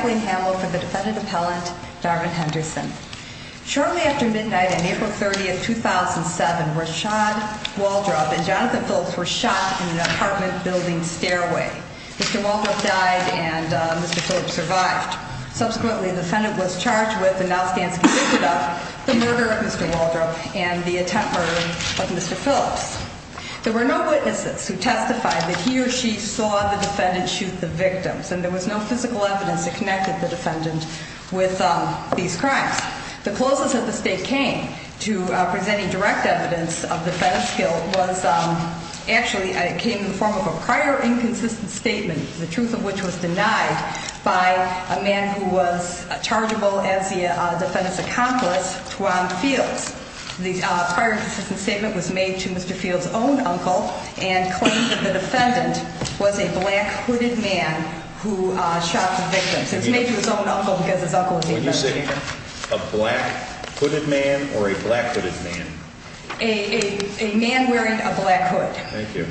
for the defendant appellant Darwin Henderson. Shortly after midnight on April 30th, 2007, Rashad Waldrop and Jonathan Phillips were shot in an apartment building stairway. Mr. Waldrop died in a car accident. And Mr. Phillips survived. Subsequently, the defendant was charged with the murder of Mr. Waldrop and the attempted murder of Mr. Phillips. There were no witnesses who testified that he or she saw the defendant shoot the victims, and there was no physical evidence that connected the defendant with these crimes. The closest that the state came to presenting direct evidence of the defendant's guilt was actually, it came in the form of a prior inconsistent statement, the truth of which was denied by a man who was chargeable as the defendant's accomplice, Twan Fields. The prior inconsistent statement was made to Mr. Fields' own uncle and claimed that the defendant was a black hooded man who shot the victims. It was made to his own uncle because his uncle was a defense attorney. A black hooded man or a black hooded man? A man wearing a black hood. Thank you.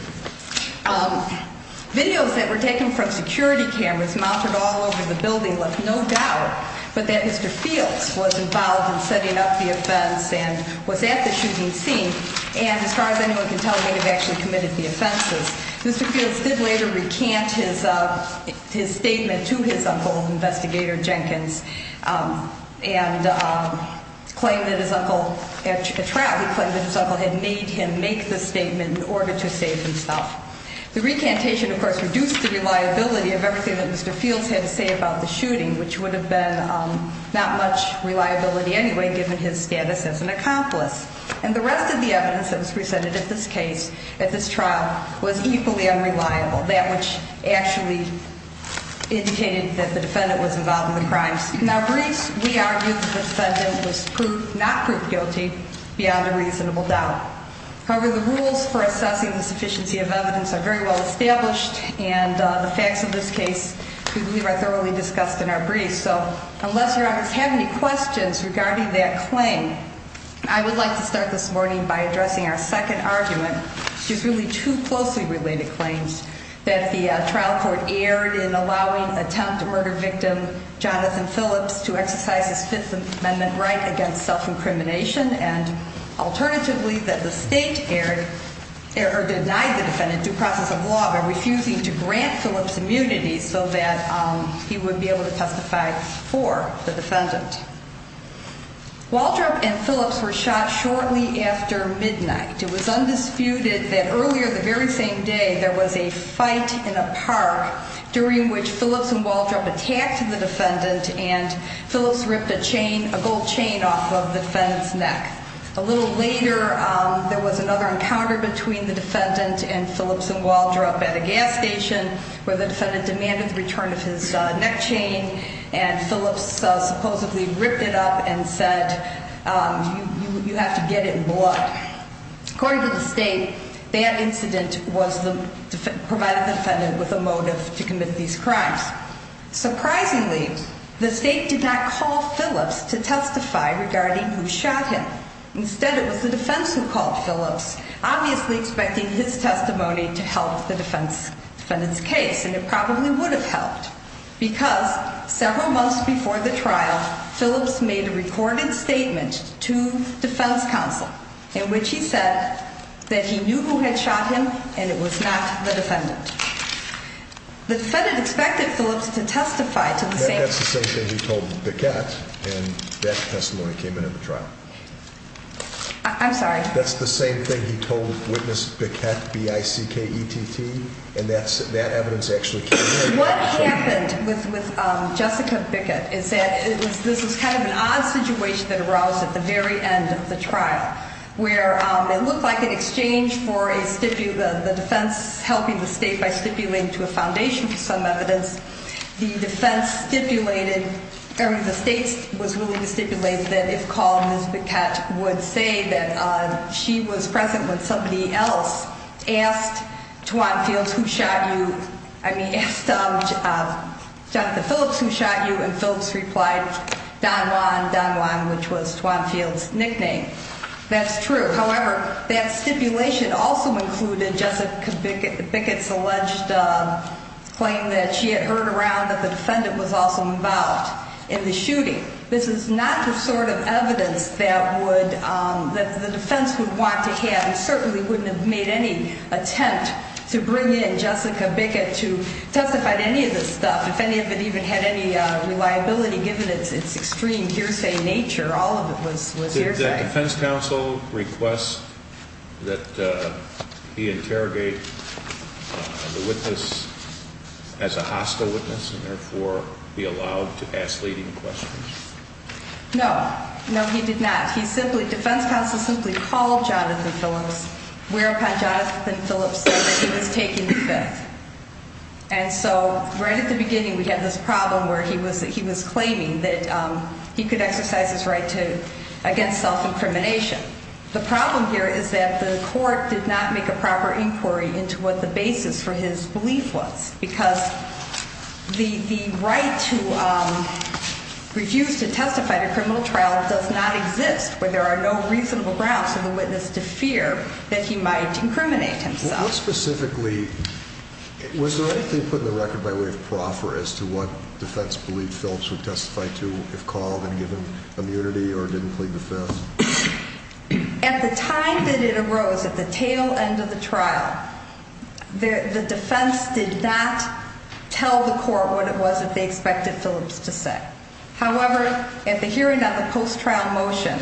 Videos that were taken from security cameras mounted all over the building left no doubt but that Mr. Fields was involved in setting up the offense and was at the shooting scene. And as far as anyone can tell, he had actually committed the offenses. Mr. Fields did later recant his statement to his uncle, Investigator Jenkins, and claimed that his uncle, at trial he claimed that his uncle had made him make the statement in order to save himself. The recantation, of course, reduced the reliability of everything that Mr. Fields had to say about the shooting, which would have been not much reliability anyway given his status as an accomplice. And the rest of the evidence that was presented at this case, at this trial, was equally unreliable, that which actually indicated that the defendant was involved in the crimes. Now, briefs, we argue the defendant was proved, not proved guilty beyond a reasonable doubt. However, the rules for assessing the sufficiency of evidence are very well established and the facts of this case we believe are thoroughly discussed in our briefs. So unless your honors have any questions regarding that claim, I would like to start this morning by addressing our second argument. There's really two closely related claims, that the trial court erred in allowing attempt to murder victim Jonathan Phillips to exercise his Fifth Amendment right against self-incrimination, and alternatively, that the state denied the defendant due process of law by refusing to grant Phillips immunity so that he would be able to testify for the defendant. Waldrop and Phillips were shot shortly after midnight. It was undisputed that earlier the very same day there was a fight in a park during which Phillips and Waldrop attacked the defendant and Phillips ripped a chain, a gold chain off of the defendant's neck. A little later, there was another encounter between the defendant and Phillips and Waldrop at a gas station where the defendant demanded the return of his neck chain and Phillips supposedly ripped it up and said, you have to get it in blood. According to the state, that incident provided the defendant with a motive to commit these crimes. Surprisingly, the state did not call Phillips to testify regarding who shot him. Instead, it was the defense who called Phillips, obviously expecting his testimony to help the defendant's case, and it probably would have helped because several months before the trial, Phillips made a recorded statement to defense counsel in which he said that he knew who had shot him and it was not the defendant. The defendant expected Phillips to testify to the same thing. That's the same thing he told Bickett, and that testimony came in at the trial. I'm sorry? That's the same thing he told witness Bickett, B-I-C-K-E-T-T, and that evidence actually came in. What happened with Jessica Bickett is that this was kind of an odd situation that arose at the very end of the trial where it looked like an exchange for the defense helping the state by stipulating to a foundation for some evidence. The defense stipulated, or the state was willing to stipulate that if called, Ms. Bickett would say that she was present when somebody else asked Twan Fields who shot you, I mean, asked Dr. Phillips who shot you, and Phillips replied, Don Juan, Don Juan, which was Twan Fields' nickname. That's true. However, that stipulation also included Jessica Bickett's alleged claim that she had heard around that the defendant was also involved in the shooting. This is not the sort of evidence that the defense would want to have, and certainly wouldn't have made any attempt to bring in Jessica Bickett to testify to any of this stuff, if any of it even had any reliability given its extreme hearsay nature. All of it was hearsay. Did the defense counsel request that he interrogate the witness as a hostile witness and therefore be allowed to ask leading questions? No. No, he did not. He simply, defense counsel simply called Jonathan Phillips whereupon Jonathan Phillips said that he was taking the fifth. And so right at the beginning we had this problem where he was claiming that he could exercise his right against self-incrimination. The problem here is that the court did not make a proper inquiry into what the basis for his belief was because the right to refuse to testify to a criminal trial does not exist where there are no reasonable grounds for the witness to fear that he might incriminate himself. Now specifically, was there anything put in the record by way of proffer as to what defense believed Phillips would testify to if called and given immunity or didn't plead the fifth? At the time that it arose, at the tail end of the trial, the defense did not tell the court what it was that they expected Phillips to say. However, at the hearing on the post-trial motion,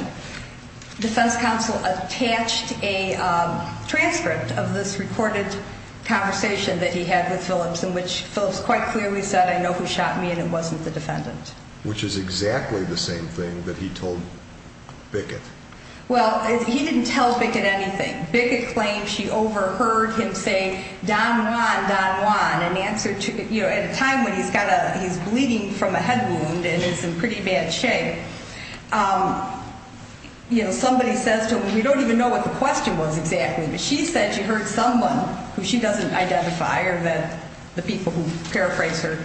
defense counsel attached a transcript of this recorded conversation that he had with Phillips in which Phillips quite clearly said, I know who shot me and it wasn't the defendant. Which is exactly the same thing that he told Bickett. Well, he didn't tell Bickett anything. Bickett claimed she overheard him say, Don Juan, Don Juan, an answer to, you know, at a time when he's bleeding from a head wound and is in pretty bad shape. You know, somebody says to him, we don't even know what the question was exactly. But she said she heard someone who she doesn't identify or that the people who paraphrase her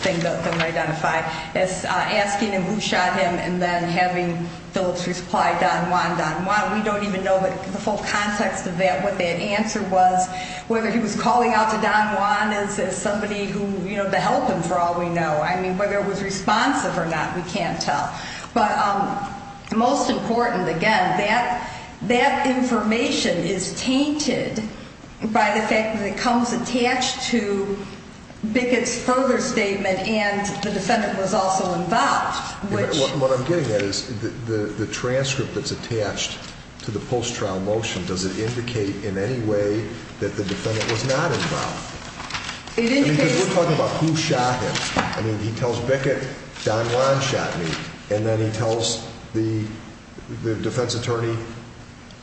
thing don't identify as asking him who shot him and then having Phillips reply, Don Juan, Don Juan. We don't even know the full context of that, what that answer was, whether he was calling out to Don Juan as somebody who, you know, to help him for all we know. I mean, whether it was responsive or not, we can't tell. But most important, again, that information is tainted by the fact that it comes attached to Bickett's further statement and the defendant was also involved. What I'm getting at is the transcript that's attached to the post-trial motion, does it indicate in any way that the defendant was not involved? We're talking about who shot him. I mean, he tells Bickett, Don Juan shot me. And then he tells the defense attorney,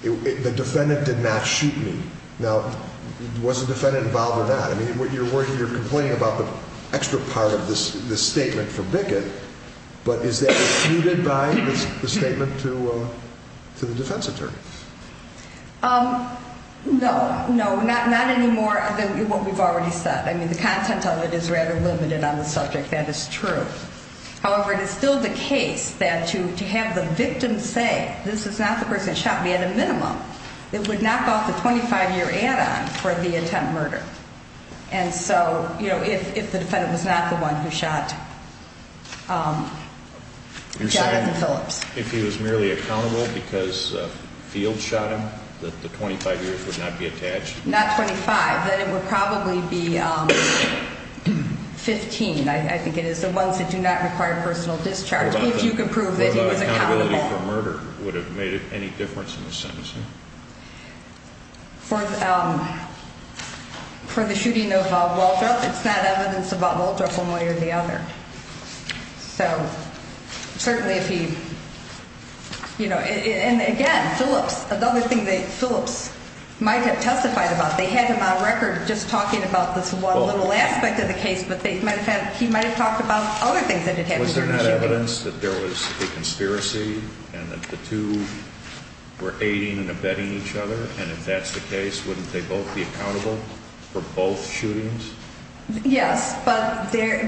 the defendant did not shoot me. Now, was the defendant involved or not? I mean, you're complaining about the extra part of this statement for Bickett, but is that refuted by the statement to the defense attorney? No, no, not anymore than what we've already said. I mean, the content of it is rather limited on the subject, that is true. However, it is still the case that to have the victim say, this is not the person who shot me at a minimum, it would knock off the 25-year add-on for the attempt murder. And so, you know, if the defendant was not the one who shot Jonathan Phillips. If he was merely accountable because Field shot him, that the 25 years would not be attached? Not 25, then it would probably be 15, I think it is. The ones that do not require personal discharge, if you can prove that he was accountable. What about accountability for murder? Would it have made any difference in the sentencing? For the shooting of Waldrop, it's not evidence about Waldrop one way or the other. So, certainly if he, you know, and again, Phillips, another thing that Phillips might have testified about. They had him on record just talking about this one little aspect of the case, but he might have talked about other things that had happened during the shooting. Was there not evidence that there was a conspiracy and that the two were aiding and abetting each other? And if that's the case, wouldn't they both be accountable for both shootings? Yes, but there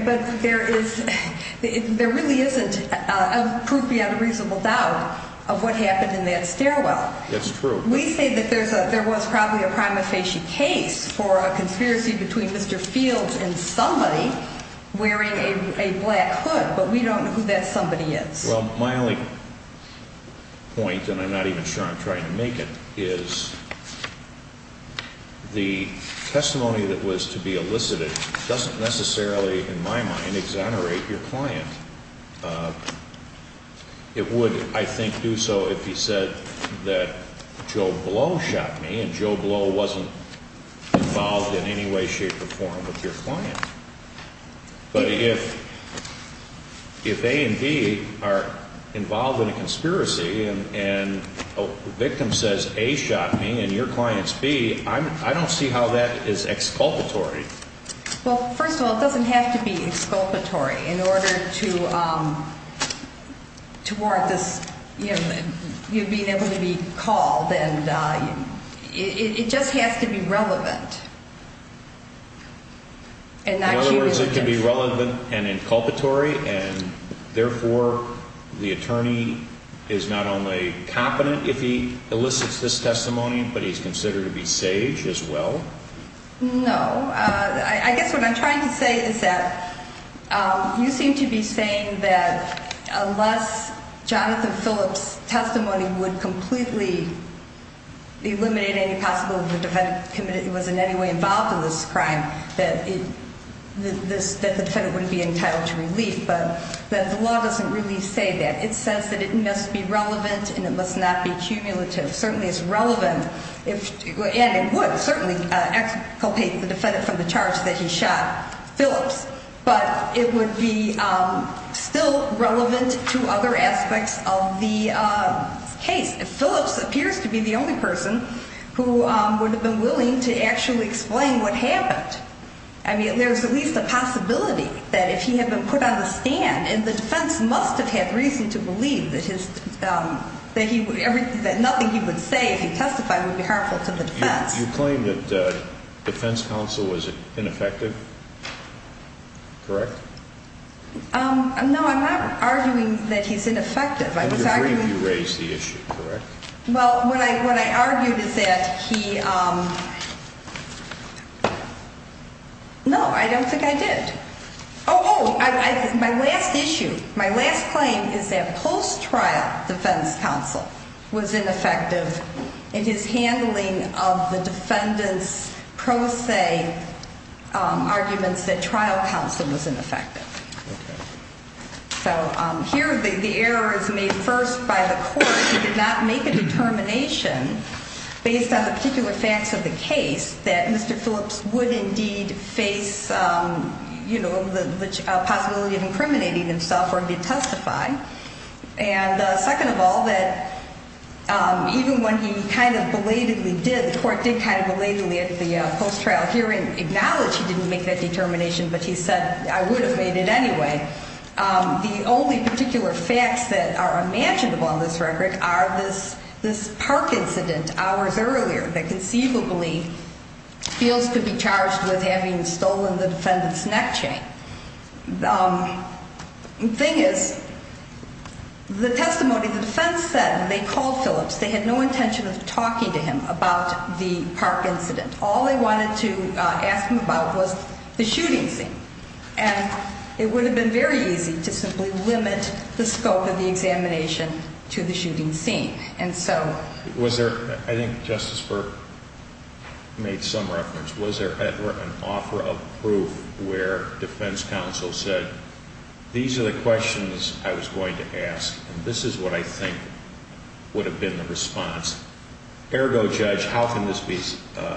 really isn't proof beyond a reasonable doubt of what happened in that stairwell. That's true. We say that there was probably a prima facie case for a conspiracy between Mr. Fields and somebody wearing a black hood, but we don't know who that somebody is. Well, my only point, and I'm not even sure I'm trying to make it, is the testimony that was to be elicited doesn't necessarily, in my mind, exonerate your client. It would, I think, do so if he said that Joe Blow shot me and Joe Blow wasn't involved in any way, shape, or form with your client. But if A and B are involved in a conspiracy and a victim says A shot me and your client's B, I don't see how that is exculpatory. Well, first of all, it doesn't have to be exculpatory in order to warrant you being able to be called. It just has to be relevant. In other words, it can be relevant and inculpatory, and therefore the attorney is not only competent if he elicits this testimony, but he's considered to be sage as well? No. I guess what I'm trying to say is that you seem to be saying that unless Jonathan Phillips' testimony would completely eliminate any possibility that the defendant was in any way involved in this crime, that the defendant wouldn't be entitled to relief, but the law doesn't really say that. It says that it must be relevant and it must not be cumulative. Certainly it's relevant and it would certainly exculpate the defendant from the charge that he shot Phillips, but it would be still relevant to other aspects of the case. If Phillips appears to be the only person who would have been willing to actually explain what happened, I mean, there's at least a possibility that if he had been put on the stand, the defense must have had reason to believe that nothing he would say if he testified would be harmful to the defense. You claim that defense counsel was ineffective? Correct? No, I'm not arguing that he's ineffective. I was arguing... And you agree that he raised the issue, correct? Well, what I argued is that he... No, I don't think I did. Oh, my last issue, my last claim is that post-trial defense counsel was ineffective in his handling of the defendant's pro se arguments that trial counsel was ineffective. So here the error is made first by the court. He did not make a determination based on the particular facts of the case that Mr. Phillips would indeed face, you know, the possibility of incriminating himself or him to testify. And second of all, that even when he kind of belatedly did, the court did kind of belatedly at the post-trial hearing acknowledge he didn't make that determination, but he said, I would have made it anyway. The only particular facts that are imaginable on this record are this park incident hours earlier that conceivably Phillips could be charged with having stolen the defendant's neck chain. The thing is, the testimony the defense said when they called Phillips, they had no intention of talking to him about the park incident. All they wanted to ask him about was the shooting scene. And it would have been very easy to simply limit the scope of the examination to the shooting scene. I think Justice Burke made some reference. Was there ever an offer of proof where defense counsel said, these are the questions I was going to ask, and this is what I think would have been the response? Ergo, Judge, how can this be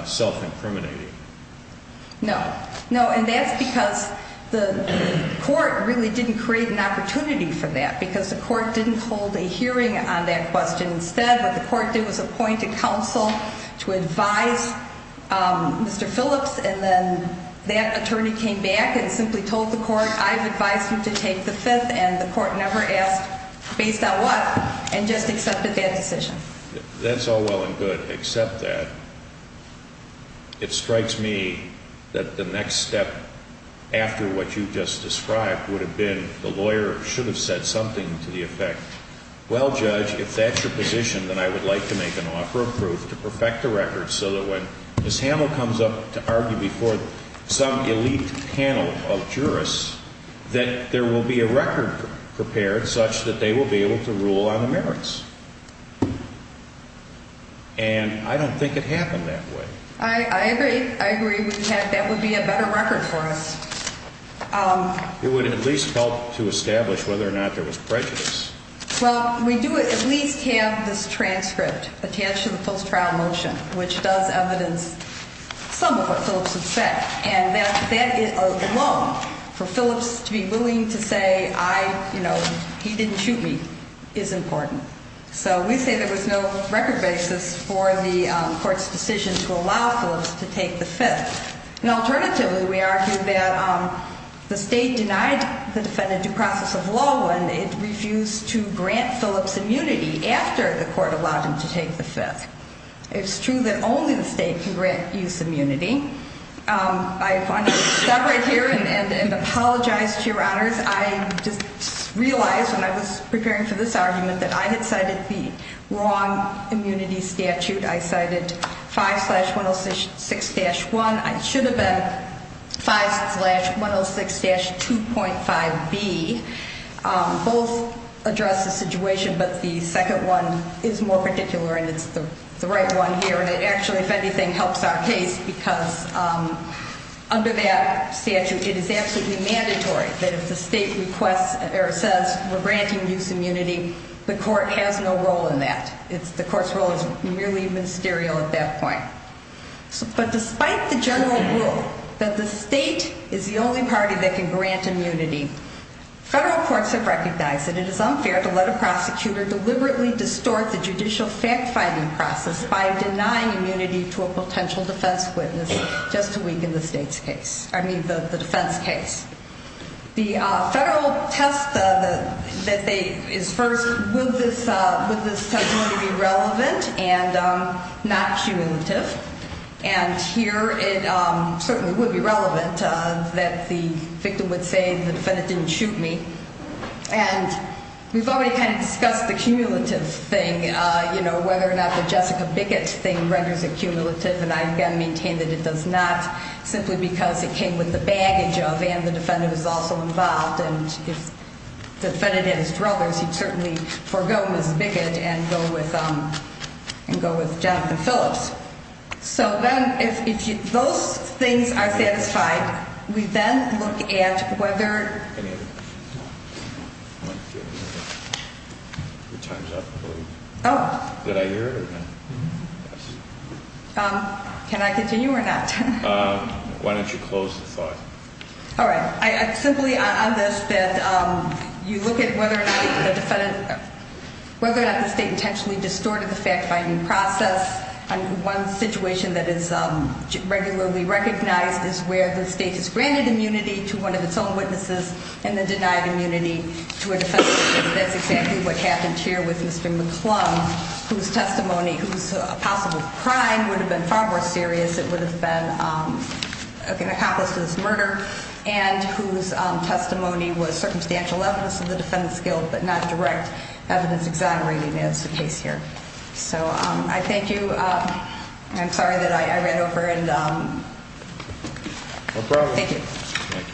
self-incriminating? No, no. And that's because the court really didn't create an opportunity for that because the court didn't hold a hearing on that question. Instead, what the court did was appoint a counsel to advise Mr. Phillips. And then that attorney came back and simply told the court, I've advised you to take the fifth. And the court never asked based on what and just accepted that decision. That's all well and good, except that. It strikes me that the next step after what you just described would have been the lawyer should have said something to the effect, well, Judge, if that's your position, then I would like to make an offer of proof to perfect the record so that when Ms. Hamill comes up to argue before some elite panel of jurists, that there will be a record prepared such that they will be able to rule on the merits. And I don't think it happened that way. I agree. I agree. That would be a better record for us. It would at least help to establish whether or not there was prejudice. Well, we do at least have this transcript attached to the post-trial motion, which does evidence some of what Phillips had said. And that alone, for Phillips to be willing to say, I, you know, he didn't shoot me, is important. So we say there was no record basis for the court's decision to allow Phillips to take the fifth. And alternatively, we argue that the state denied the defendant due process of law when it refused to grant Phillips immunity after the court allowed him to take the fifth. It's true that only the state can grant use immunity. I want to stop right here and apologize to your honors. I just realized when I was preparing for this argument that I had cited the wrong immunity statute. I cited 5 slash 106-1. I should have been 5 slash 106-2.5B. Both address the situation, but the second one is more particular, and it's the right one here. And it actually, if anything, helps our case because under that statute, it is absolutely mandatory that if the state requests or says we're granting use immunity, the court has no role in that. The court's role is merely ministerial at that point. But despite the general rule that the state is the only party that can grant immunity, federal courts have recognized that it is unfair to let a prosecutor deliberately distort the judicial fact-finding process by denying immunity to a potential defense witness just a week in the defense case. The federal test that is first, would this testimony be relevant and not cumulative? And here it certainly would be relevant that the victim would say the defendant didn't shoot me. And we've already kind of discussed the cumulative thing, whether or not the Jessica Bickett thing renders it cumulative. And I, again, maintain that it does not, simply because it came with the baggage of and the defendant was also involved. And if the defendant had his brothers, he'd certainly forego Ms. Bickett and go with Jonathan Phillips. So then if those things are satisfied, we then look at whether... Any other questions? Your time's up, I believe. Oh. Did I hear it or not? Can I continue or not? Why don't you close the floor? All right. I'm simply on this that you look at whether or not the state intentionally distorted the fact-finding process. And one situation that is regularly recognized is where the state has granted immunity to one of its own witnesses and then denied immunity to a defense witness. That's exactly what happened here with Mr. McClung, whose testimony, whose possible crime would have been far more serious. It would have been an accomplice to this murder. And whose testimony was circumstantial evidence of the defendant's guilt, but not direct evidence exonerating as the case here. So I thank you. I'm sorry that I ran over and... No problem. Thank you. Thank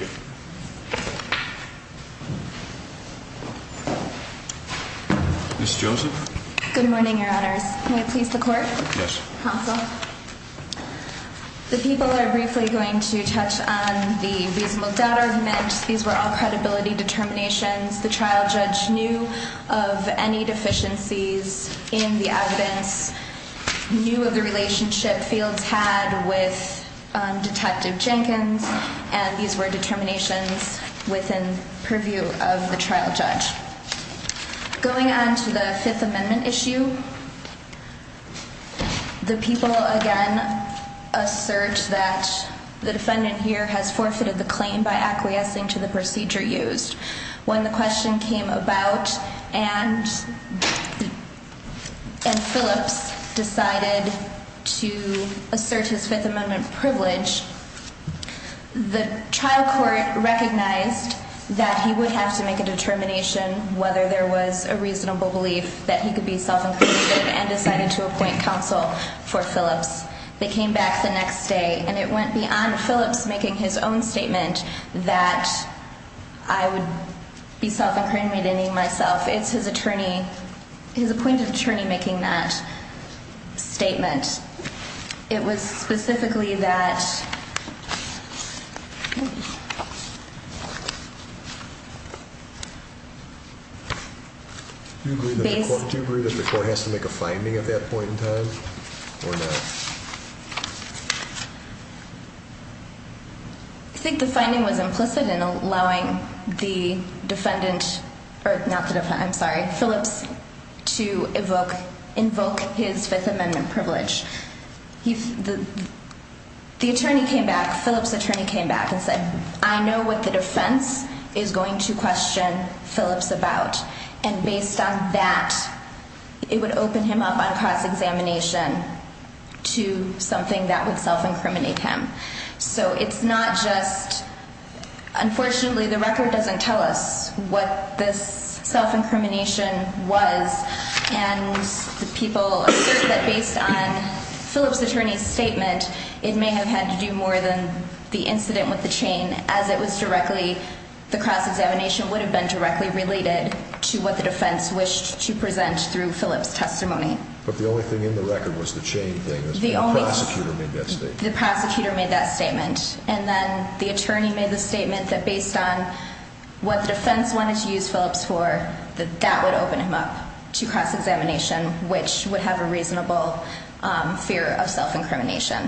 you. Ms. Joseph. Good morning, Your Honors. May it please the Court? Yes. Counsel. The people are briefly going to touch on the reasonable doubt argument. These were all credibility determinations. The trial judge knew of any deficiencies in the evidence, knew of the relationship Fields had with Detective Jenkins. And these were determinations within purview of the trial judge. Going on to the Fifth Amendment issue, the people again assert that the defendant here has forfeited the claim by acquiescing to the procedure used. When the question came about and Phillips decided to assert his Fifth Amendment privilege, the trial court recognized that he would have to make a determination whether there was a reasonable belief that he could be self-incarcerated and decided to appoint counsel for Phillips. They came back the next day, and it went beyond Phillips making his own statement that I would be self-incarcerating myself. It's his attorney, his appointed attorney making that statement. It was specifically that... Do you agree that the court has to make a finding at that point in time or not? I think the finding was implicit in allowing the defendant, or not the defendant, I'm sorry, Phillips to invoke his Fifth Amendment privilege. The attorney came back, Phillips' attorney came back and said, I know what the defense is going to question Phillips about. And based on that, it would open him up on cross-examination to something that would self-incriminate him. So it's not just... Unfortunately, the record doesn't tell us what this self-incrimination was. And the people assert that based on Phillips' attorney's statement, it may have had to do more than the incident with the chain. As it was directly, the cross-examination would have been directly related to what the defense wished to present through Phillips' testimony. But the only thing in the record was the chain thing. The prosecutor made that statement. And then the attorney made the statement that based on what the defense wanted to use Phillips for, that that would open him up to cross-examination, which would have a reasonable fear of self-incrimination.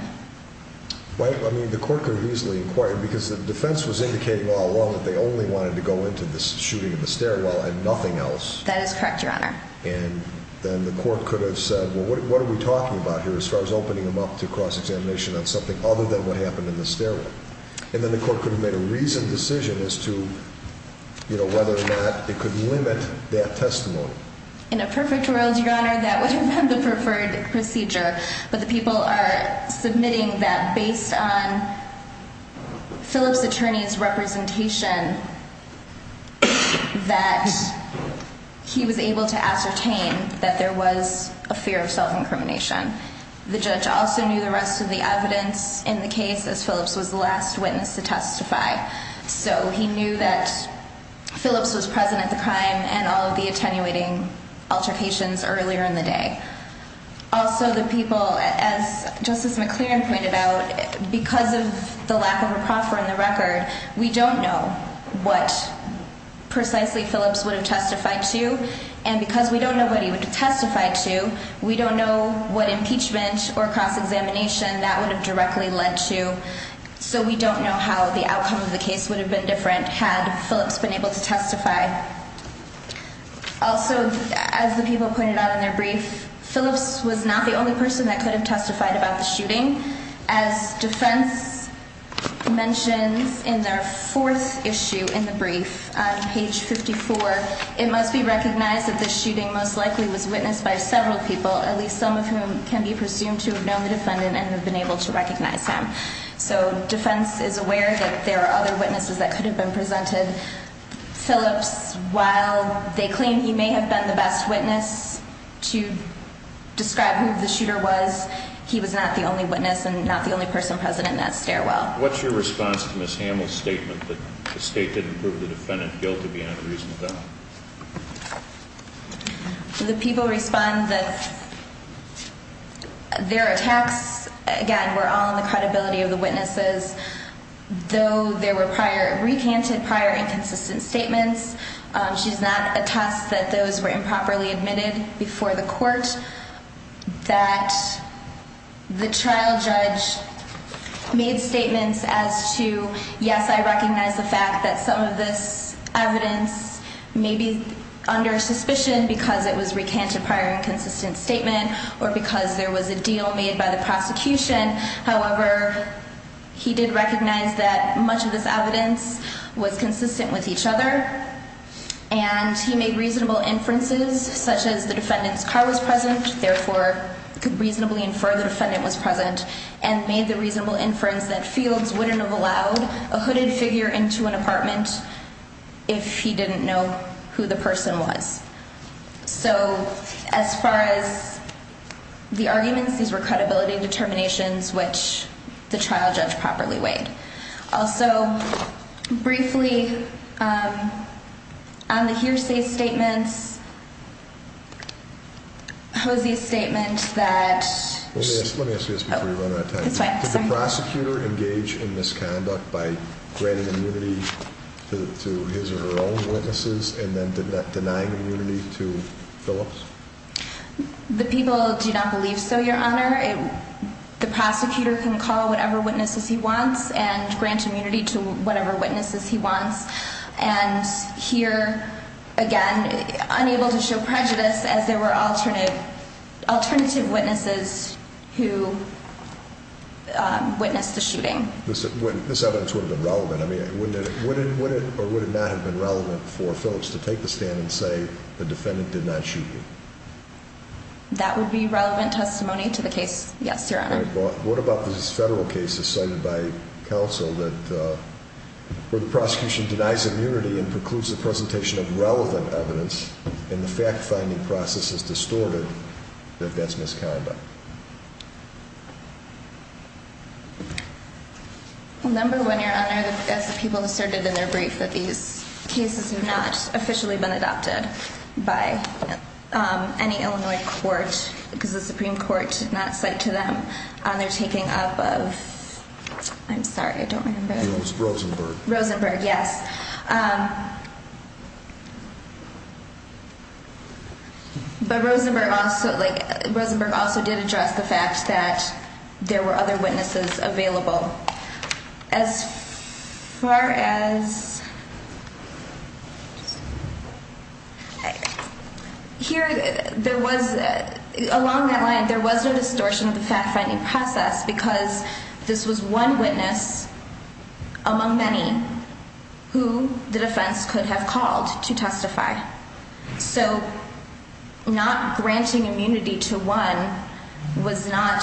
I mean, the court could have easily inquired, because the defense was indicating all along that they only wanted to go into this shooting in the stairwell and nothing else. That is correct, Your Honor. And then the court could have said, well, what are we talking about here as far as opening him up to cross-examination on something other than what happened in the stairwell? And then the court could have made a reasoned decision as to whether or not it could limit that testimony. In a perfect world, Your Honor, that would have been the preferred procedure. But the people are submitting that based on Phillips' attorney's representation, that he was able to ascertain that there was a fear of self-incrimination. The judge also knew the rest of the evidence in the case, as Phillips was the last witness to testify. So he knew that Phillips was present at the crime and all of the attenuating altercations earlier in the day. Also, the people, as Justice McClaren pointed out, because of the lack of a proffer in the record, we don't know what precisely Phillips would have testified to. And because we don't know what he would have testified to, we don't know what impeachment or cross-examination that would have directly led to. So we don't know how the outcome of the case would have been different had Phillips been able to testify. Also, as the people pointed out in their brief, Phillips was not the only person that could have testified about the shooting. As defense mentions in their fourth issue in the brief, on page 54, it must be recognized that the shooting most likely was witnessed by several people, at least some of whom can be presumed to have known the defendant and have been able to recognize him. So defense is aware that there are other witnesses that could have been presented. Phillips, while they claim he may have been the best witness to describe who the shooter was, he was not the only witness and not the only person present in that stairwell. What's your response to Ms. Hamill's statement that the state didn't prove the defendant guilty beyond a reasonable doubt? The people respond that their attacks, again, were all in the credibility of the witnesses, though there were recanted prior inconsistent statements. She does not attest that those were improperly admitted before the court, that the trial judge made statements as to, yes, I recognize the fact that some of this evidence may be under suspicion because it was recanted prior inconsistent statement or because there was a deal made by the prosecution. However, he did recognize that much of this evidence was consistent with each other, and he made reasonable inferences such as the defendant's car was present, therefore could reasonably infer the defendant was present, and made the reasonable inference that Fields wouldn't have allowed a hooded figure into an apartment if he didn't know who the person was. So, as far as the arguments, these were credibility determinations which the trial judge properly weighed. Also, briefly, on the hearsay statements, Hosea's statement that... Let me ask you this before you run out of time. It's fine. Did the prosecutor engage in misconduct by granting immunity to his or her own witnesses and then denying immunity to Phillips? The people do not believe so, Your Honor. The prosecutor can call whatever witnesses he wants and grant immunity to whatever witnesses he wants, and here, again, unable to show prejudice as there were alternative witnesses who witnessed the shooting. This evidence would have been relevant. I mean, would it or would it not have been relevant for Phillips to take the stand and say the defendant did not shoot you? That would be relevant testimony to the case, yes, Your Honor. What about these federal cases cited by counsel that... where the prosecution denies immunity and precludes the presentation of relevant evidence and the fact-finding process is distorted, that that's misconduct? Number one, Your Honor, as the people asserted in their brief, that these cases have not officially been adopted by any Illinois court because the Supreme Court did not cite to them. They're taking up of... I'm sorry, I don't remember. It was Rosenberg. Rosenberg, yes. But Rosenberg also did address the fact that there were other witnesses available. As far as... Here, there was, along that line, there was no distortion of the fact-finding process because this was one witness among many who the defense could have called to testify. So not granting immunity to one was not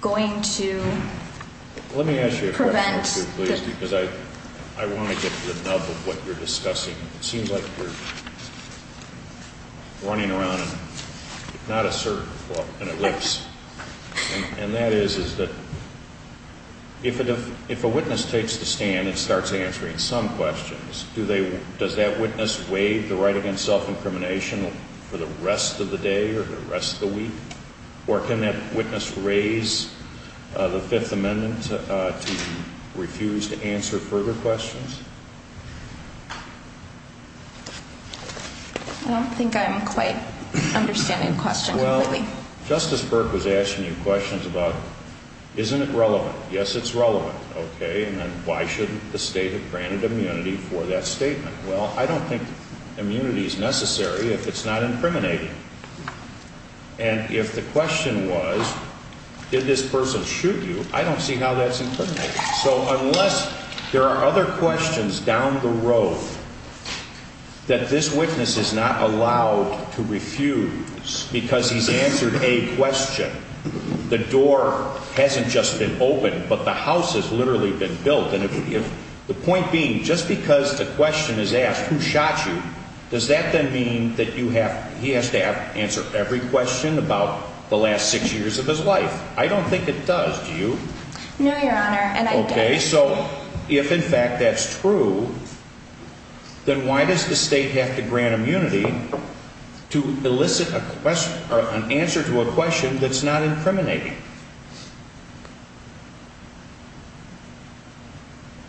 going to prevent... Let me ask you a question, too, please, because I want to get the nub of what you're discussing. It seems like you're running around and not asserting... And that is that if a witness takes the stand and starts answering some questions, does that witness waive the right against self-incrimination for the rest of the day or the rest of the week? Or can that witness raise the Fifth Amendment to refuse to answer further questions? I don't think I'm quite understanding the question completely. Well, Justice Burke was asking you questions about, isn't it relevant? Yes, it's relevant. Okay, and then why shouldn't the state have granted immunity for that statement? Well, I don't think immunity is necessary if it's not incriminating. And if the question was, did this person shoot you, I don't see how that's incriminating. So unless there are other questions down the road that this witness is not allowed to refuse because he's answered a question, the door hasn't just been opened, but the house has literally been built. And the point being, just because a question is asked, who shot you, does that then mean that he has to answer every question about the last six years of his life? I don't think it does, do you? No, Your Honor, and I don't. Okay, so if in fact that's true, then why does the state have to grant immunity to elicit an answer to a question that's not incriminating?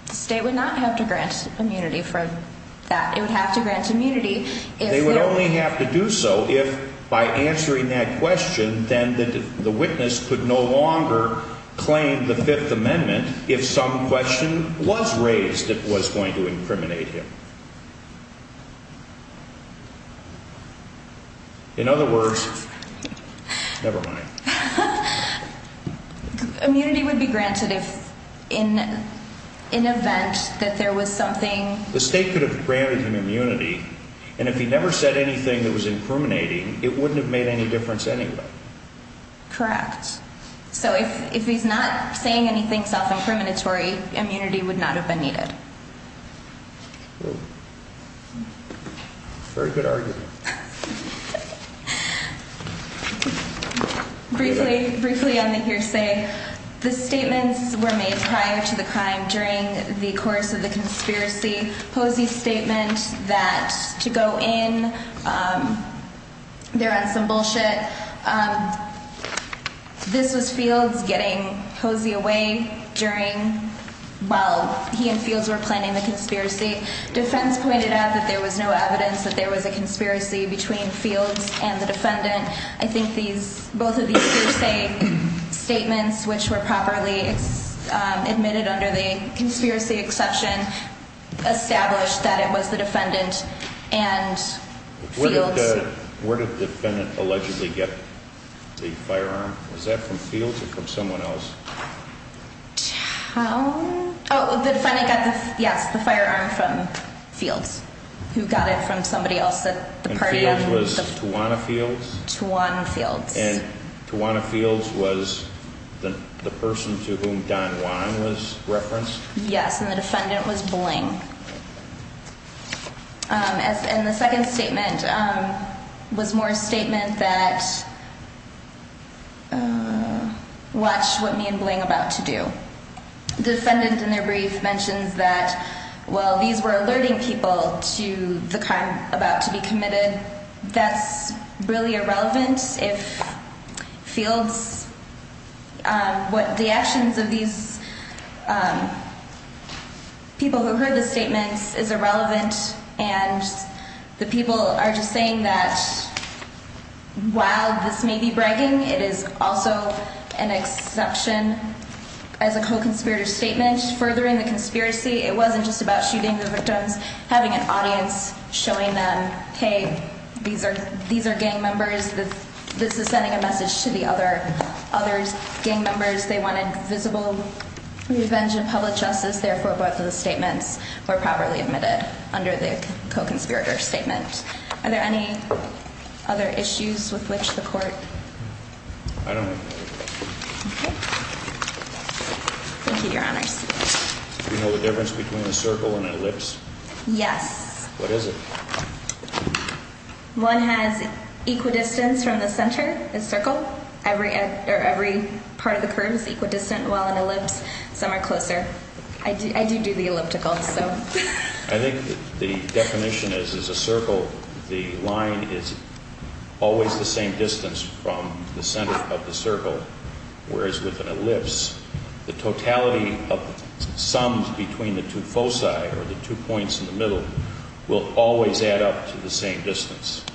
The state would not have to grant immunity for that. It would have to grant immunity if... They would only have to do so if, by answering that question, then the witness could no longer claim the Fifth Amendment if some question was raised that was going to incriminate him. In other words... Never mind. Immunity would be granted if in event that there was something... The state could have granted him immunity, and if he never said anything that was incriminating, it wouldn't have made any difference anyway. Correct. So if he's not saying anything self-incriminatory, immunity would not have been needed. Very good argument. Briefly on the hearsay. The statements were made prior to the crime during the course of the conspiracy. Posey's statement that to go in, they're on some bullshit. This was Fields getting Posey away while he and Fields were planning the conspiracy. Defense pointed out that there was no evidence that there was a conspiracy between Fields and the defendant. I think both of these hearsay statements, which were properly admitted under the conspiracy exception, established that it was the defendant and Fields. Where did the defendant allegedly get the firearm? Was that from Fields or from someone else? How? Oh, the defendant got the firearm from Fields, who got it from somebody else at the party. And Fields was Tawana Fields? Tawana Fields. And Tawana Fields was the person to whom Don Juan was referenced? Yes, and the defendant was Bling. And the second statement was more a statement that watched what me and Bling about to do. The defendant in their brief mentions that, well, these were alerting people to the crime about to be committed. That's really irrelevant if Fields, what the actions of these people who heard the statements is irrelevant. And the people are just saying that while this may be bragging, it is also an exception as a co-conspirator statement. Furthering the conspiracy, it wasn't just about shooting the victims. Having an audience showing them, hey, these are gang members. This is sending a message to the other gang members. They wanted visible revenge and public justice. And it was therefore both of the statements were properly admitted under the co-conspirator statement. Are there any other issues with which the court? I don't know. Okay. Thank you, Your Honors. Do you know the difference between a circle and an ellipse? Yes. What is it? One has equidistance from the center, a circle. Every part of the curve is equidistant, while an ellipse, some are closer. I do do the elliptical, so. I think the definition is, is a circle, the line is always the same distance from the center of the circle. Whereas with an ellipse, the totality of sums between the two foci or the two points in the middle will always add up to the same distance.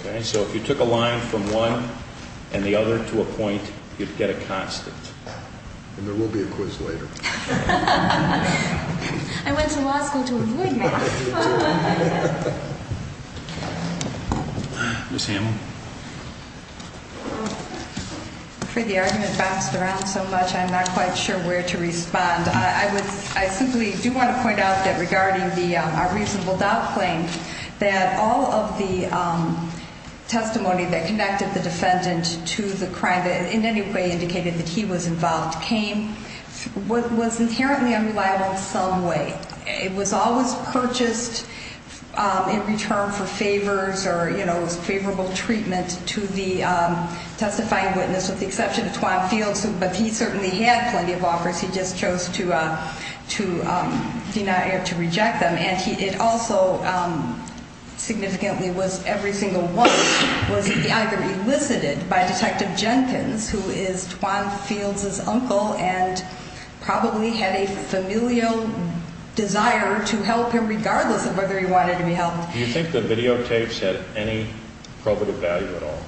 Okay. So if you took a line from one and the other to a point, you'd get a constant. And there will be a quiz later. I went to law school to avoid math. Ms. Hamel. I'm afraid the argument bounced around so much, I'm not quite sure where to respond. I simply do want to point out that regarding our reasonable doubt claim, that all of the testimony that connected the defendant to the crime, that in any way indicated that he was involved, came, was inherently unreliable in some way. It was always purchased in return for favors or favorable treatment to the testifying witness, with the exception of Twan Fields, but he certainly had plenty of offers, he just chose to deny or to reject them. And it also significantly was every single one was either elicited by Detective Jenkins, who is Twan Fields' uncle and probably had a familial desire to help him regardless of whether he wanted to be helped. Do you think the videotapes had any probative value at all?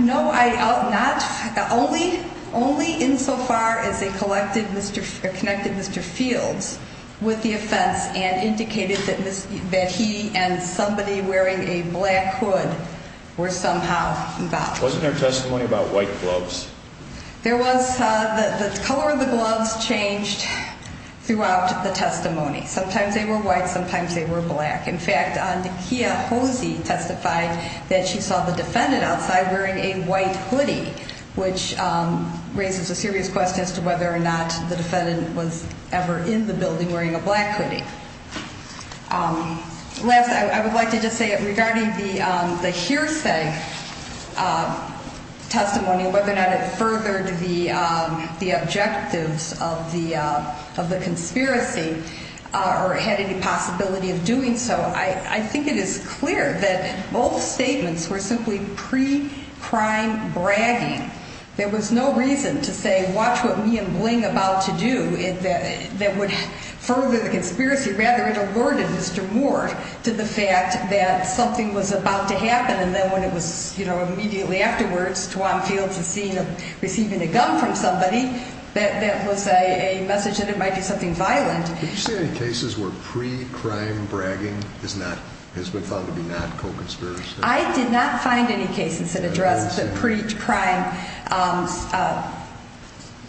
No, only insofar as they connected Mr. Fields with the offense and indicated that he and somebody wearing a black hood were somehow involved. Wasn't there testimony about white gloves? The color of the gloves changed throughout the testimony. Sometimes they were white, sometimes they were black. In fact, Nakia Hosey testified that she saw the defendant outside wearing a white hoodie, which raises a serious question as to whether or not the defendant was ever in the building wearing a black hoodie. Last, I would like to just say that regarding the hearsay testimony, whether or not it furthered the objectives of the conspiracy or had any possibility of doing so, I think it is clear that both statements were simply pre-crime bragging. There was no reason to say watch what me and Bling about to do that would further the conspiracy. Rather, it alerted Mr. Moore to the fact that something was about to happen and then when it was immediately afterwards, Tuan Fields was seen receiving a gun from somebody, that was a message that it might be something violent. Did you see any cases where pre-crime bragging has been found to be not co-conspiracy? I did not find any cases that addressed the pre-crime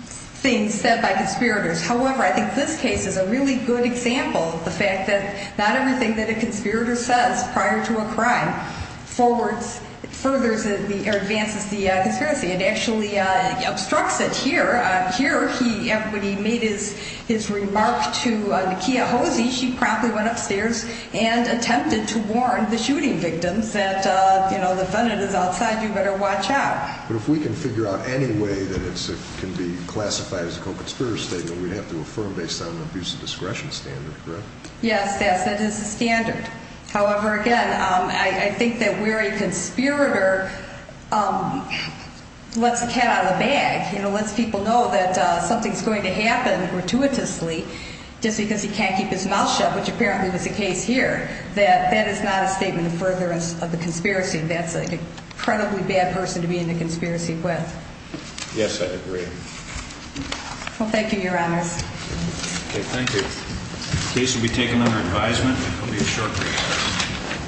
things said by conspirators. However, I think this case is a really good example of the fact that not everything that a conspirator says prior to a crime advances the conspiracy. It actually obstructs it here. Here, when he made his remark to Nakia Hosey, she promptly went upstairs and attempted to warn the shooting victims that the defendant is outside, you better watch out. But if we can figure out any way that it can be classified as a co-conspirator statement, we'd have to affirm based on an abuse of discretion standard, correct? Yes, that is the standard. However, again, I think that where a conspirator lets the cat out of the bag, lets people know that something's going to happen gratuitously just because he can't keep his mouth shut, which apparently was the case here, that that is not a statement of furtherance of the conspiracy. That's an incredibly bad person to be in the conspiracy with. Yes, I agree. Well, thank you, Your Honors. Okay, thank you. The case will be taken under advisement. It will be a short brief.